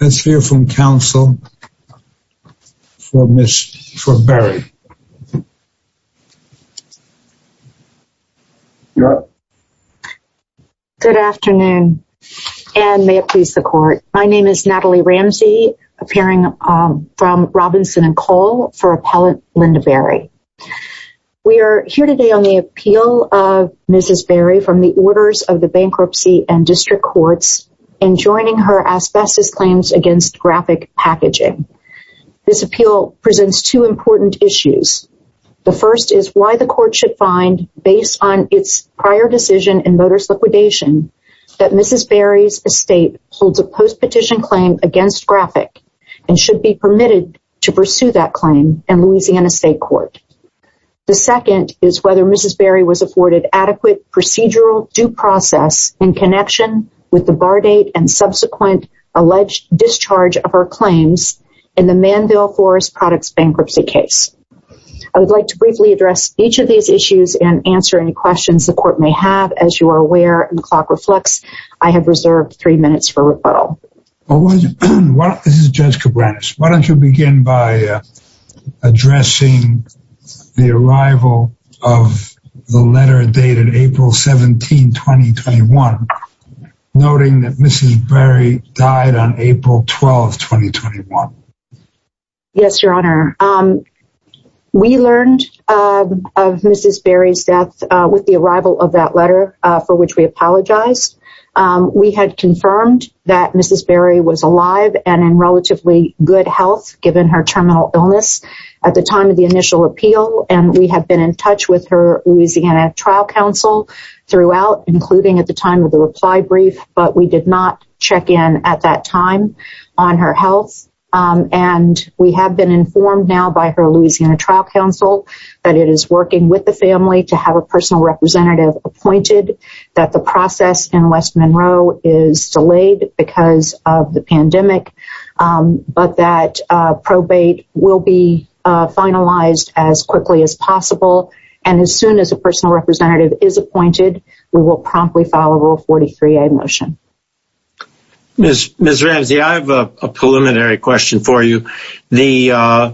Let's hear from counsel for Barry. Good afternoon and may it please the court. My name is Natalie Ramsey appearing from Robinson and Cole for Appellant Linda Barry. We are here today on the appeal of Mrs. Barry from the orders of the Bankruptcy and District Courts in joining her asbestos claims against Graphic Packaging. This appeal presents two important issues. The first is why the court should find, based on its prior decision and voters' liquidation, that Mrs. Barry's estate holds a post-petition claim against Graphic and should be permitted to pursue that claim in Louisiana in connection with the bar date and subsequent alleged discharge of her claims in the Manville Forest products bankruptcy case. I would like to briefly address each of these issues and answer any questions the court may have. As you are aware, and the clock reflects, I have reserved three minutes for rebuttal. Why don't you begin by addressing the arrival of the letter dated April 17, 2021, noting that Mrs. Barry died on April 12, 2021. Yes, your honor. We learned of Mrs. Barry's death with the arrival of that letter, for which we apologize. We had confirmed that Mrs. Barry was alive and in relatively good health given her terminal illness at the time of initial appeal. We have been in touch with her Louisiana trial counsel throughout, including at the time of the reply brief, but we did not check in at that time on her health. We have been informed now by her Louisiana trial counsel that it is working with the family to have a personal representative appointed, that the process in West Monroe is delayed because of the pandemic, but that probate will be finalized as quickly as possible. As soon as a personal representative is appointed, we will promptly follow rule 43A motion. Ms. Ramsey, I have a preliminary question for you. Ms.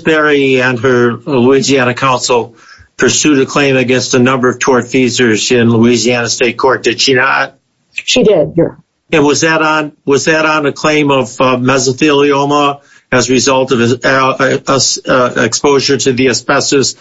Barry and her Louisiana counsel pursued a claim against a number of tort feasors in Louisiana state court, did she not? She did, yeah. And was that on a claim of mesothelioma as a result of exposure to the asbestos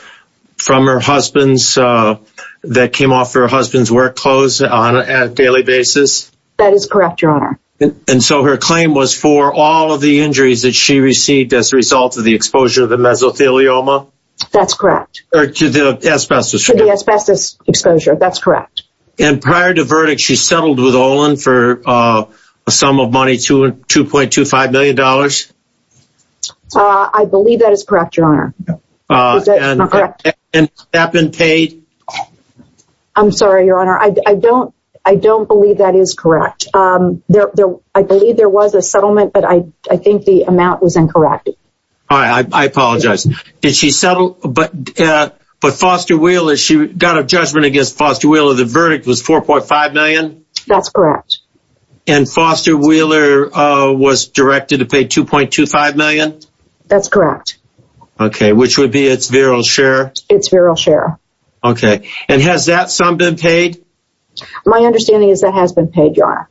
that came off her husband's work clothes on a daily basis? That is correct, your honor. And so her claim was for all of the injuries that she received as a result of the exposure of the mesothelioma? That's correct. Or to the asbestos. To the asbestos exposure, that's correct. And prior to verdict, she settled with Olin for a sum of money, $2.25 million? I believe that is correct, your honor. And has that been paid? I'm sorry, your honor, I don't believe that is correct. I believe there was a settlement, but I think the amount was incorrect. All right, I apologize. Did she settle, but Foster Wheeler, she got a judgment against Foster Wheeler, the verdict was $4.5 million? That's correct. And Foster Wheeler was directed to pay $2.25 million? That's correct. Okay, which would be its virile share? Its virile share. Okay, and has that sum been paid? My understanding is that has been paid, your honor.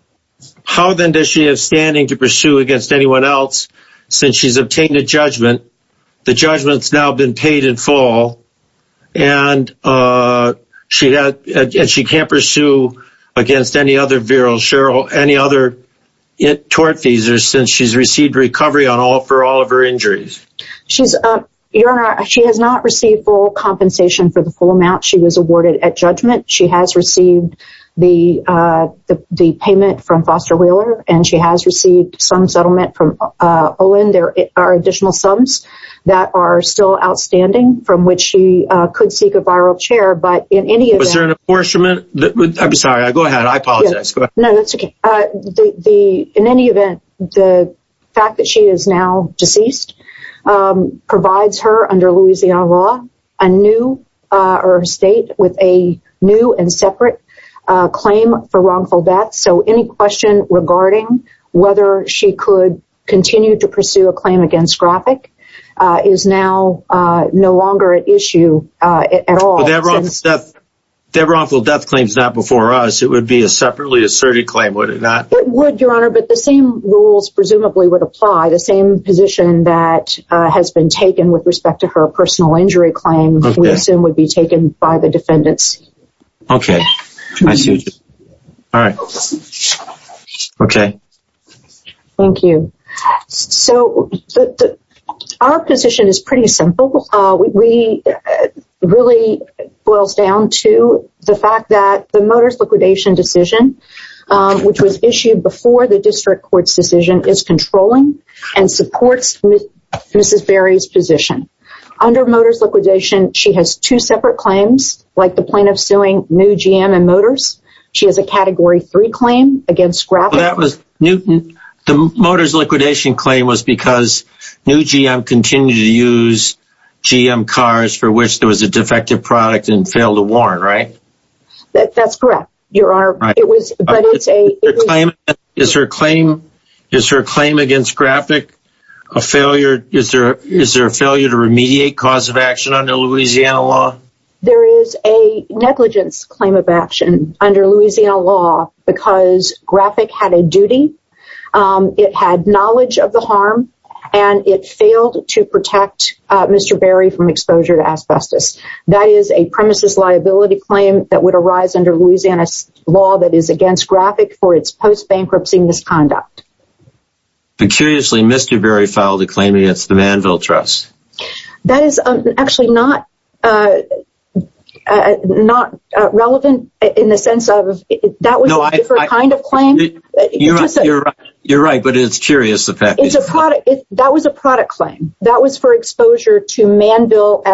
How then does she have standing to pursue against anyone else since she's obtained a judgment? The full and she can't pursue against any other virile share or any other tort fees or since she's received recovery on all for all of her injuries? Your honor, she has not received full compensation for the full amount she was awarded at judgment. She has received the payment from Foster Wheeler and she has received some settlement from Olin. There are additional sums that are still outstanding from which she could seek a viral share. But in any event... Was there an apportionment? I'm sorry, I go ahead. I apologize. No, that's okay. In any event, the fact that she is now deceased provides her under Louisiana law, a new state with a new and separate claim for wrongful death. So any question regarding whether she could continue to pursue a claim against graphic is now no longer an issue at all. Their wrongful death claims not before us, it would be a separately asserted claim, would it not? It would, your honor, but the same rules presumably would apply the same position that has been taken with respect to her personal injury claim we assume would be taken by the defendants. Okay, I see. All right. Okay. Thank you. So our position is pretty simple. We really boils down to the fact that the Motors liquidation decision, which was issued before the district court's decision is controlling and supports Mrs. Berry's position. Under Motors liquidation, she has two separate claims, like the plaintiff suing New GM and Motors. She has a category three claim against graphic. That was Newton. The Motors liquidation claim was because New GM continued to use GM cars for which there was a defective product and failed to warrant, right? That's correct, your honor. Is her claim against graphic a failure? Is there a failure to remediate cause of action under Louisiana law? There is a negligence claim of action under Louisiana law because graphic had a duty. It had knowledge of the harm, and it failed to protect Mr. Berry from exposure to asbestos. That is a premises liability claim that would arise under Louisiana law that is against graphic for its post-bankruptcy misconduct. But curiously, Mr. Berry filed a claim against the Manville Trust. That is actually not relevant in the sense of that was a different kind of claim. You're right, but it's curious. That was a product claim. That was for exposure to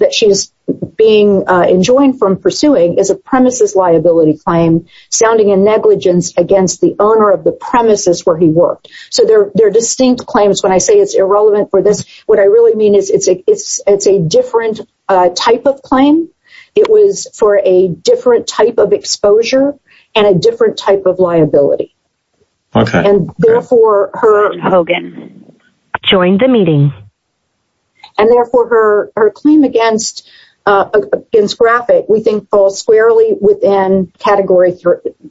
that she's being enjoined from pursuing as a premises liability claim, sounding a negligence against the owner of the premises where he worked. So they're distinct claims. When I say it's irrelevant for this, what I really mean is it's a different type of claim. It was for a different type of exposure and a different type of liability. Therefore, her claim against graphic, we think, falls squarely within category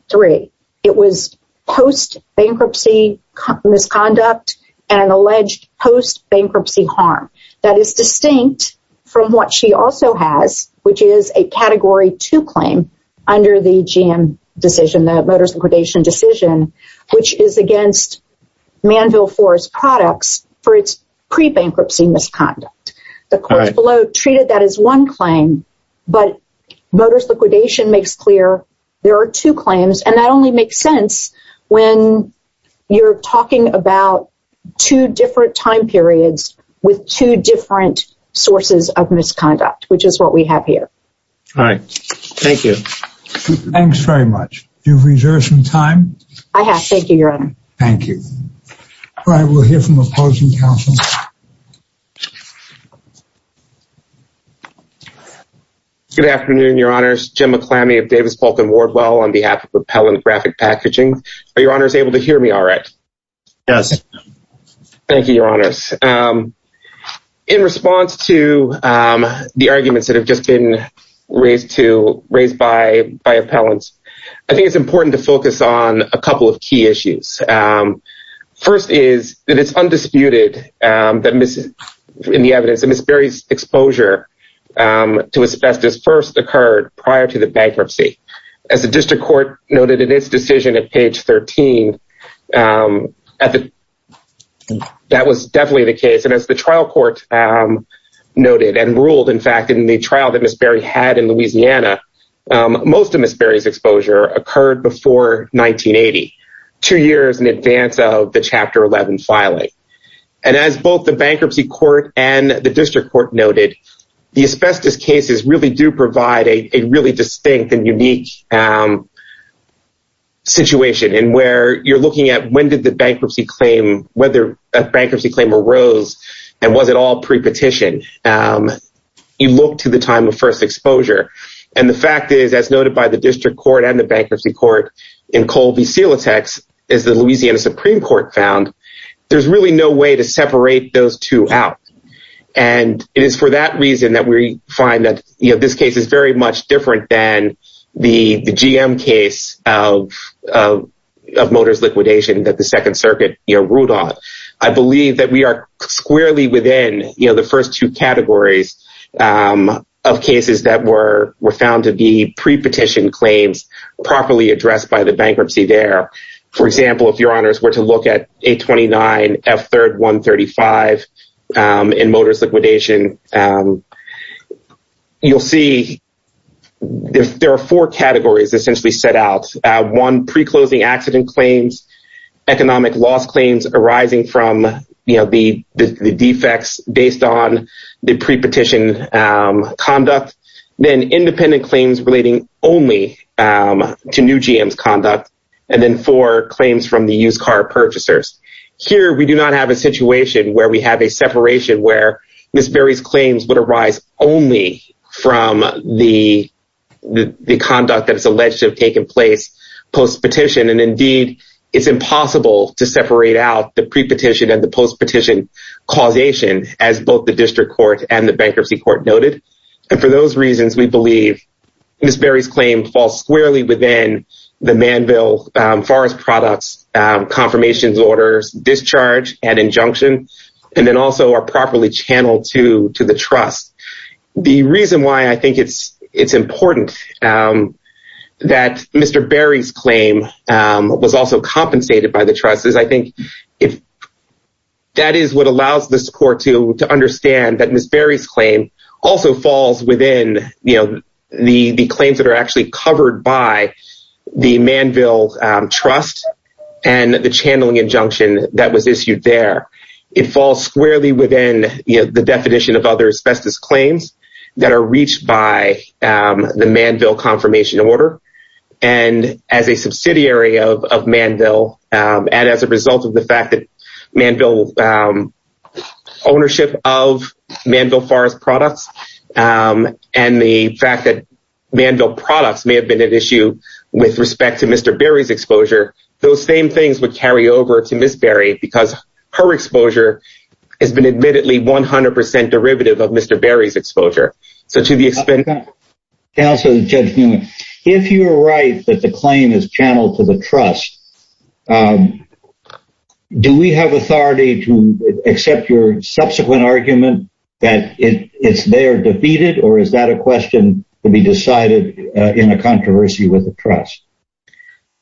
three. It was post-bankruptcy misconduct and an alleged post-bankruptcy harm. That is distinct from what she also has, which is a category two claim under the GM decision that was liquidation decision, which is against Manville Forest products for its pre-bankruptcy misconduct. The court below treated that as one claim, but motorist liquidation makes clear. There are two claims and that only makes sense when you're talking about two different time periods with two different sources of misconduct, which is what we have here. All right. Thank you. Thanks very much. You've reserved some time. I have. Thank you, Your Honor. Thank you. All right. We'll hear from opposing counsel. Good afternoon, Your Honors. Jim McClamy of Davis Pulten Wardwell on behalf of Propel and Graphic Packaging. Are Your Honors able to hear me all right? Yes. Thank you, Your Honors. In response to the arguments that have just been raised by appellants, I think it's important to focus on a couple of key issues. First is that it's undisputed in the evidence that Ms. Berry's exposure to asbestos first occurred prior to the bankruptcy. As the district court noted in its decision at page 13, that was definitely the case. And as the trial court noted and ruled, in fact, in the trial that Ms. Berry had in Louisiana, most of Ms. Berry's exposure occurred before 1980, two years in advance of the Chapter 11 filing. And as both the bankruptcy court and the district court noted, the asbestos cases really do provide a really distinct and unique situation in where you're looking at when did the bankruptcy claim, whether a bankruptcy claim arose, and was it all pre-petition? You look to the time of first exposure. And the fact is, as noted by the district court and the bankruptcy court in Colby-Silatex, as the Louisiana Supreme Court found, there's really no way to separate those two out. And it is for that reason that we find that this case is very much different than the GM case of Motors liquidation that the Second Squarely within the first two categories of cases that were found to be pre-petition claims properly addressed by the bankruptcy there. For example, if your honors were to look at 829 F3rd 135 in Motors liquidation, you'll see there are four categories essentially set out. One pre-closing accident claims, economic loss claims arising from the defects based on the pre-petition conduct, then independent claims relating only to new GM's conduct, and then four claims from the used car purchasers. Here, we do not have a situation where we have a separation where Ms. Berry's claims would arise only from the conduct that is alleged to have taken place post-petition. And indeed, it's impossible to separate out the pre-petition and the post-petition causation, as both the district court and the bankruptcy court noted. And for those reasons, we believe Ms. Berry's claim falls squarely within the manville forest products confirmations orders discharge and injunction, and then also are properly channeled to the trust. The reason why I think it's important that Mr. Berry's claim was also compensated by the trust is I think that is what allows the support to understand that Ms. Berry's claim also falls within the claims that are actually covered by the manville trust and the channeling injunction that was by the manville confirmation order. And as a subsidiary of manville, and as a result of the fact that manville ownership of manville forest products, and the fact that manville products may have been an issue with respect to Mr. Berry's exposure, those same things would carry over to Ms. Berry because her exposure has been admittedly 100 percent derivative of Mr. Berry's exposure. So to the extent... Counselor Judge Newman, if you're right that the claim is channeled to the trust, do we have authority to accept your subsequent argument that it's there defeated, or is that a question to be decided in a controversy with the trust?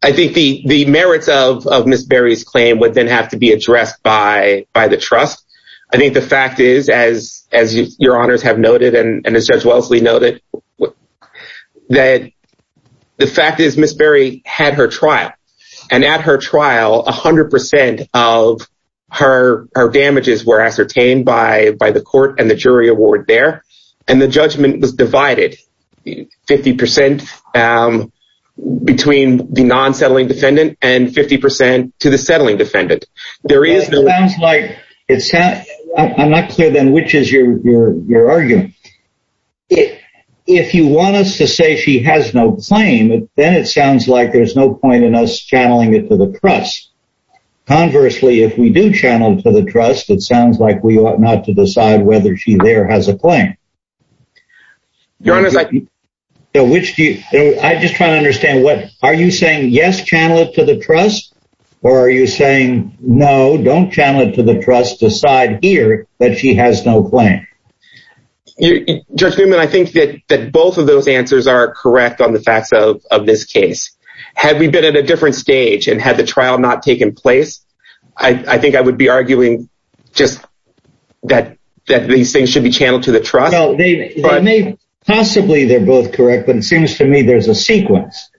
I think the merits of Ms. Berry's claim would then have to be addressed by the trust. I think the fact is, as your honors have noted and as Judge Wellesley noted, that the fact is Ms. Berry had her trial, and at her trial 100 percent of her damages were ascertained by the court and the jury award there, and the judgment was divided 50 percent between the non-settling defendant and 50 percent to the jury. Which is your argument? If you want us to say she has no claim, then it sounds like there's no point in us channeling it to the trust. Conversely, if we do channel to the trust, it sounds like we ought not to decide whether she there has a claim. Your Honor, I just try to understand what... Are you saying yes, channel it to the trust, or are you saying no, don't channel it to the trust, decide here that she has no claim? Judge Newman, I think that both of those answers are correct on the facts of this case. Had we been at a different stage and had the trial not taken place, I think I would be arguing just that these things should be channeled to the trust. Possibly they're both correct, but it seems to me there's a sequence.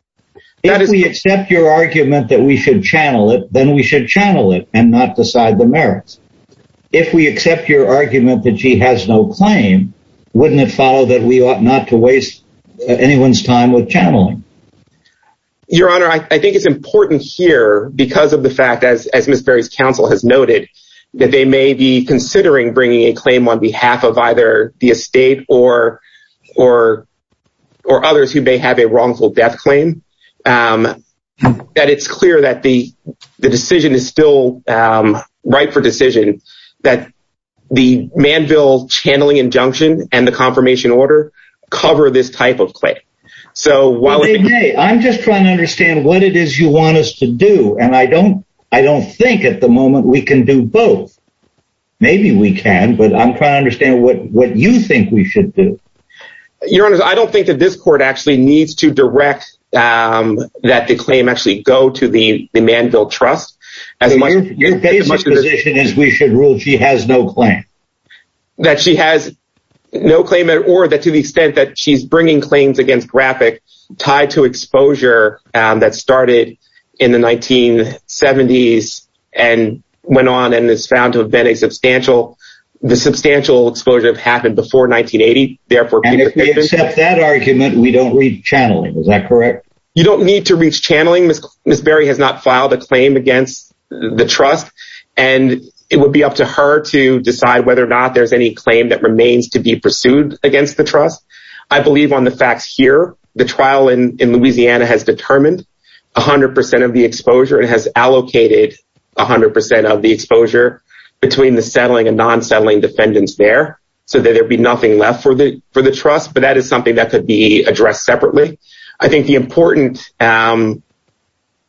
If we accept your argument that we should channel it, then we should channel it and not decide the merits. If we accept your argument that she has no claim, wouldn't it follow that we ought not to waste anyone's time with channeling? Your Honor, I think it's important here because of the fact, as Ms. Berry's counsel has noted, that they may be considering bringing a claim on behalf of either the estate or others who may have a wrongful death claim, that it's clear that the decision is still right for decision, that the Manville channeling injunction and the confirmation order cover this type of claim. I'm just trying to understand what it is you want us to do, and I don't think at the moment we can do both. Maybe we can, but I'm trying to understand what you think we should do. Your Honor, I don't think that this court actually needs to direct that the claim actually go to the Manville Trust. Your basic position is we should rule she has no claim. That she has no claim or that to the extent that she's bringing claims against graphic tied to exposure that started in the 1970s and went on and is found to have been a substantial the substantial exposure that happened before 1980. And if we accept that argument, we don't read channeling. Is that correct? You don't need to reach channeling. Ms. Berry has not filed a claim against the trust, and it would be up to her to decide whether or not there's any claim that remains to be pursued against the trust. I believe on the facts here, the trial in Louisiana has determined 100 percent of the exposure and has allocated 100 percent of the non-settling defendants there so that there'd be nothing left for the for the trust. But that is something that could be addressed separately. I think the important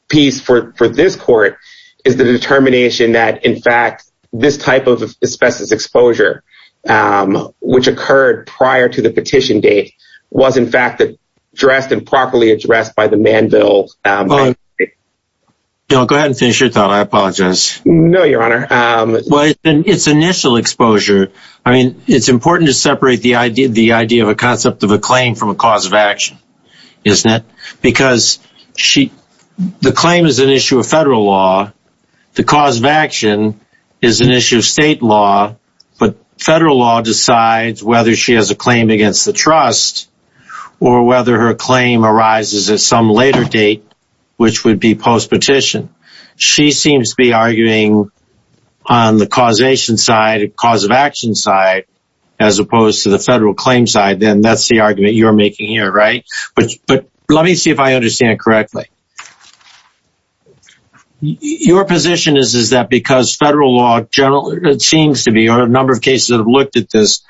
piece for this court is the determination that, in fact, this type of asbestos exposure, which occurred prior to the petition date, was in fact addressed and properly addressed by the Manville. Well, go ahead and finish your thought. I apologize. No, Your Honor. Well, it's initial exposure. I mean, it's important to separate the idea of a concept of a claim from a cause of action, isn't it? Because the claim is an issue of federal law. The cause of action is an issue of state law. But federal law decides whether she has a claim against the trust or whether her claim arises at some later date, which would be post-petition. She seems to be arguing on the causation side, cause of action side, as opposed to the federal claim side. Then that's the argument you're making here, right? But let me see if I understand correctly. Your position is that because federal law generally seems to be, or a number of cases that have looked at this,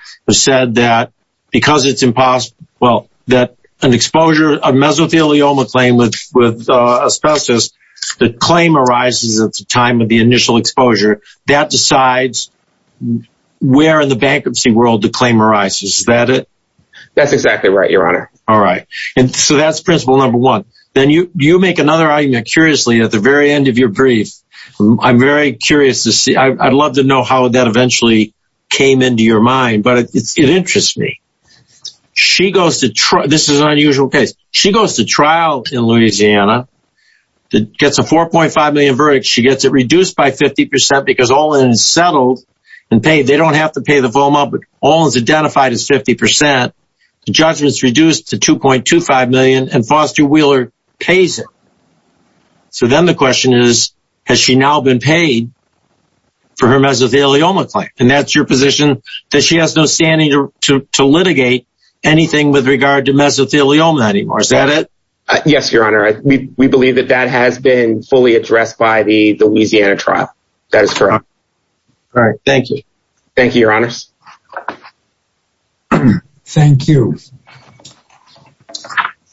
have because it's impossible, well, that an exposure of mesothelioma claim with asbestos, the claim arises at the time of the initial exposure. That decides where in the bankruptcy world the claim arises. Is that it? That's exactly right, Your Honor. All right. And so that's principle number one. Then you make another argument, curiously, at the very end of your brief. I'm very curious to see. I'd love to know how that eventually came into your mind, but it interests me. This is an unusual case. She goes to trial in Louisiana, gets a 4.5 million verdict. She gets it reduced by 50% because Olin's settled and paid. They don't have to pay the FOMA, but Olin's identified as 50%. The judgment's reduced to 2.25 million, and Foster Wheeler pays it. So then the question is, has she now been paid for her mesothelioma claim? And that's your position, that she has no standing to litigate anything with regard to mesothelioma anymore. Is that it? Yes, Your Honor. We believe that that has been fully addressed by the Louisiana trial. That is correct. All right. Thank you. Thank you, Your Honors. Thank you.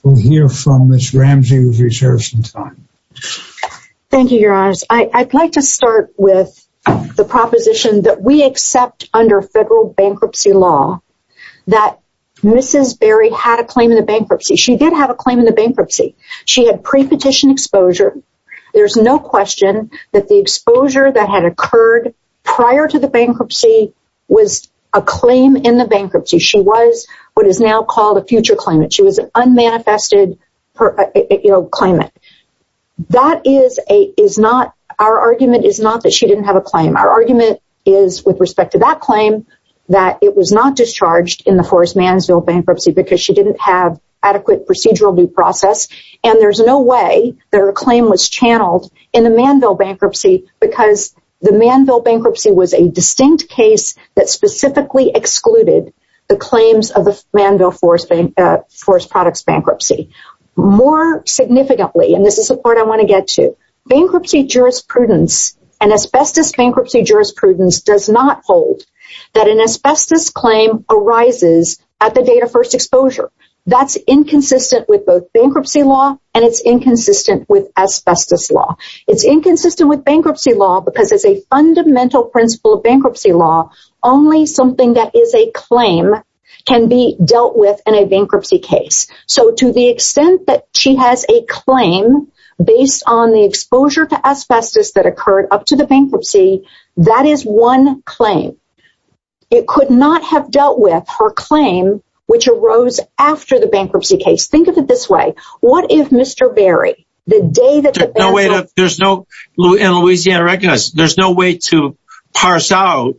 We'll hear from Ms. Ramsey, who has reserved some time. Thank you, Your Honors. I'd like to start with the proposition that we accept under federal bankruptcy law that Mrs. Berry had a claim in the bankruptcy. She did have a claim in the bankruptcy. She had pre-petition exposure. There's no question that the exposure that had occurred prior to the bankruptcy was a claim in the bankruptcy. She was what is now called a future claimant. She was an unmanifested claimant. Our argument is not that she didn't have a claim. Our argument is, with respect to that claim, that it was not discharged in the Forest Mansville bankruptcy because she didn't have adequate procedural due process. And there's no way that her claim was channeled in the Mansville bankruptcy because the Mansville bankruptcy was a distinct case that specifically excluded the claims of the Mansville Forest Products bankruptcy. More significantly, and this is the part I want to get to, bankruptcy jurisprudence and asbestos bankruptcy jurisprudence does not hold that an asbestos claim arises at the date exposure. That's inconsistent with both bankruptcy law and it's inconsistent with asbestos law. It's inconsistent with bankruptcy law because as a fundamental principle of bankruptcy law, only something that is a claim can be dealt with in a bankruptcy case. So to the extent that she has a claim based on the exposure to asbestos that occurred up to the bankruptcy, that is one claim. It could not have dealt with her claim, which arose after the bankruptcy case. Think of it this way. What if Mr. Berry, the day that there's no in Louisiana recognized, there's no way to parse out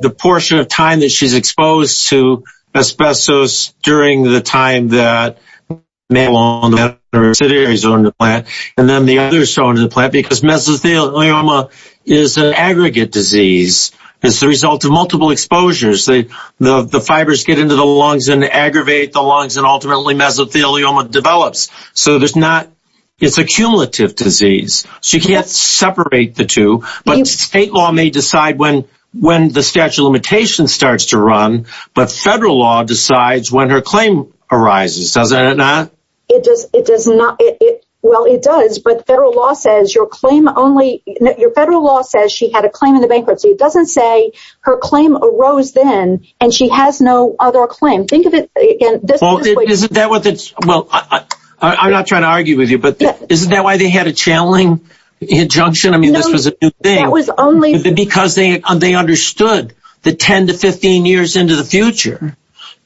the portion of time that she's exposed to asbestos during the time that and then the other stone in the plant because mesothelioma is an aggregate disease. It's the result of multiple exposures. The fibers get into the lungs and aggravate the lungs and ultimately mesothelioma develops. So there's not, it's a cumulative disease. She can't separate the two, but state law may decide when the statute of limitations starts to run, but federal law decides when her claim arises, does it not? It does not. Well, it does, but federal law says your claim only your federal law says she had a claim in the bankruptcy. It doesn't say her claim arose then and she has no other claim. Think of it. Well, I'm not trying to argue with you, but isn't that why they had a channeling injunction? I mean, this was a new thing because they understood the 10 to 15 years into the future,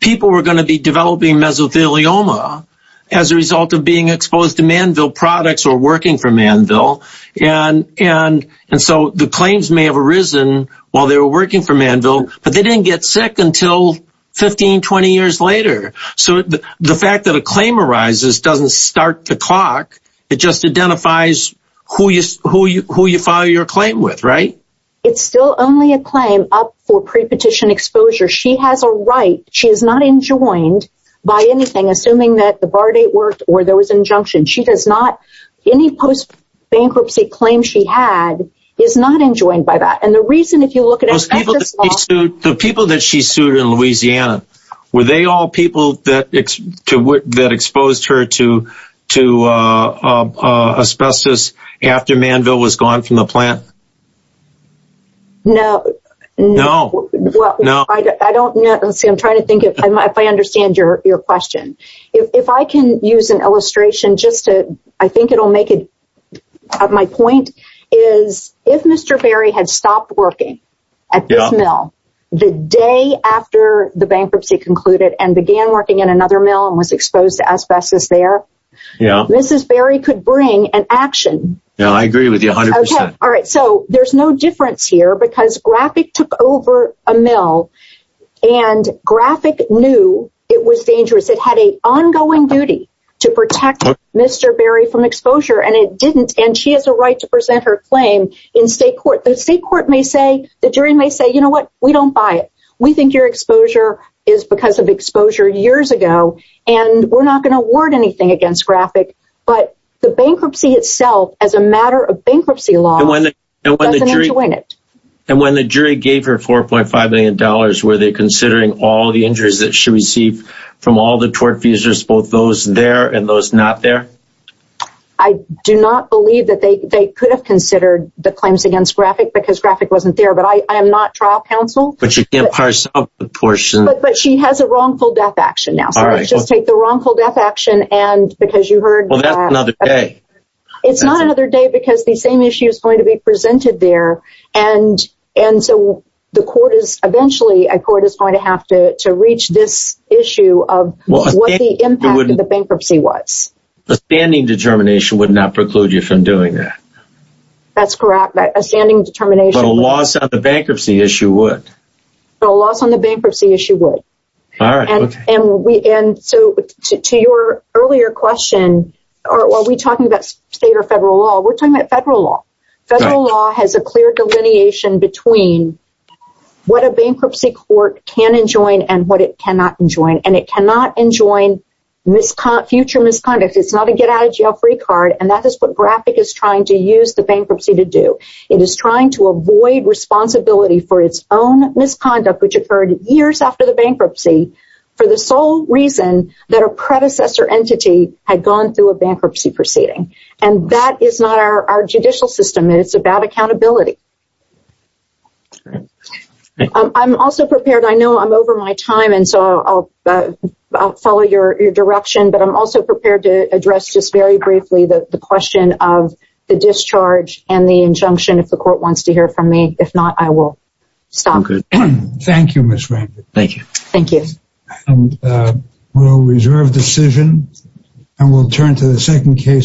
people were going to be developing mesothelioma as a result of being exposed to manville products or working for manville. And, and, and so the claims may have arisen while they were working for manville, but they didn't get sick until 15, 20 years later. So the fact that a claim arises doesn't start the clock. It just identifies who you, who you, who you file your claim with, right? It's still only a claim up for pre-petition exposure. She has a right. She is not enjoined by anything, assuming that the bar date worked or there was injunction. She does not, any post bankruptcy claim she had is not enjoined by that. And the reason, if you look at it, the people that she sued in Louisiana, were they all people that, that exposed her to, to, uh, uh, asbestos after manville was gone from the plant? No, no, no. I don't know. Let's see. I'm trying to think if I might, if I understand your, your question, if I can use an illustration just to, I think it'll make it. My point is if Mr. Berry had stopped working at this mill the day after the bankruptcy concluded and began working in another mill and was exposed to asbestos there. Yeah. Mrs. Berry could bring an action. Yeah, I agree with you a hundred percent. All right. So there's no difference here because graphic took over a mill and graphic knew it was dangerous. It had a ongoing duty to protect Mr. Berry from exposure and it didn't. And she has a right to present her claim in state court. The state court may say the jury may say, you know what? We don't buy it. We think your exposure is because of exposure years ago, and we're not going to award anything against graphic, but the bankruptcy itself as a matter of bankruptcy law. And when the jury gave her $4.5 million, were they considering all the injuries that she received from all the tort fees, just both those there and those not there? I do not believe that they, they could have considered the claims against graphic because graphic wasn't there, but I, I am not trial counsel, but she can't parse out the portion, but she has a wrongful death action now. So let's just take the wrongful death action. And because you heard, it's not another day because the same issue is going to be presented there. And, and so the court is eventually a court is going to have to, to reach this issue of what the impact of the bankruptcy was. The standing determination would not preclude you from doing that. That's correct. A standing determination. But a loss on the bankruptcy issue would. A loss on the bankruptcy issue would. And so to your earlier question, are we talking about state or federal law? We're talking about federal law. Federal law has a clear delineation between what a bankruptcy court can enjoin and what it cannot enjoin. And it cannot enjoin future misconduct. It's not a get out of jail free card. And that is what graphic is trying to use the bankruptcy to do. It is trying to avoid responsibility for its own misconduct, which occurred years after the bankruptcy, for the sole reason that a predecessor entity had gone through a bankruptcy proceeding. And that is not our judicial system. It's about accountability. I'm also prepared. I know I'm over my time. And so I'll follow your direction. But I'm also prepared to address just very briefly the question of the discharge and the injunction if the court wants to hear from me. If not, I will stop. Thank you, Ms. Rankin. Thank you. Thank you. And we'll reserve decision and we'll turn to the second case.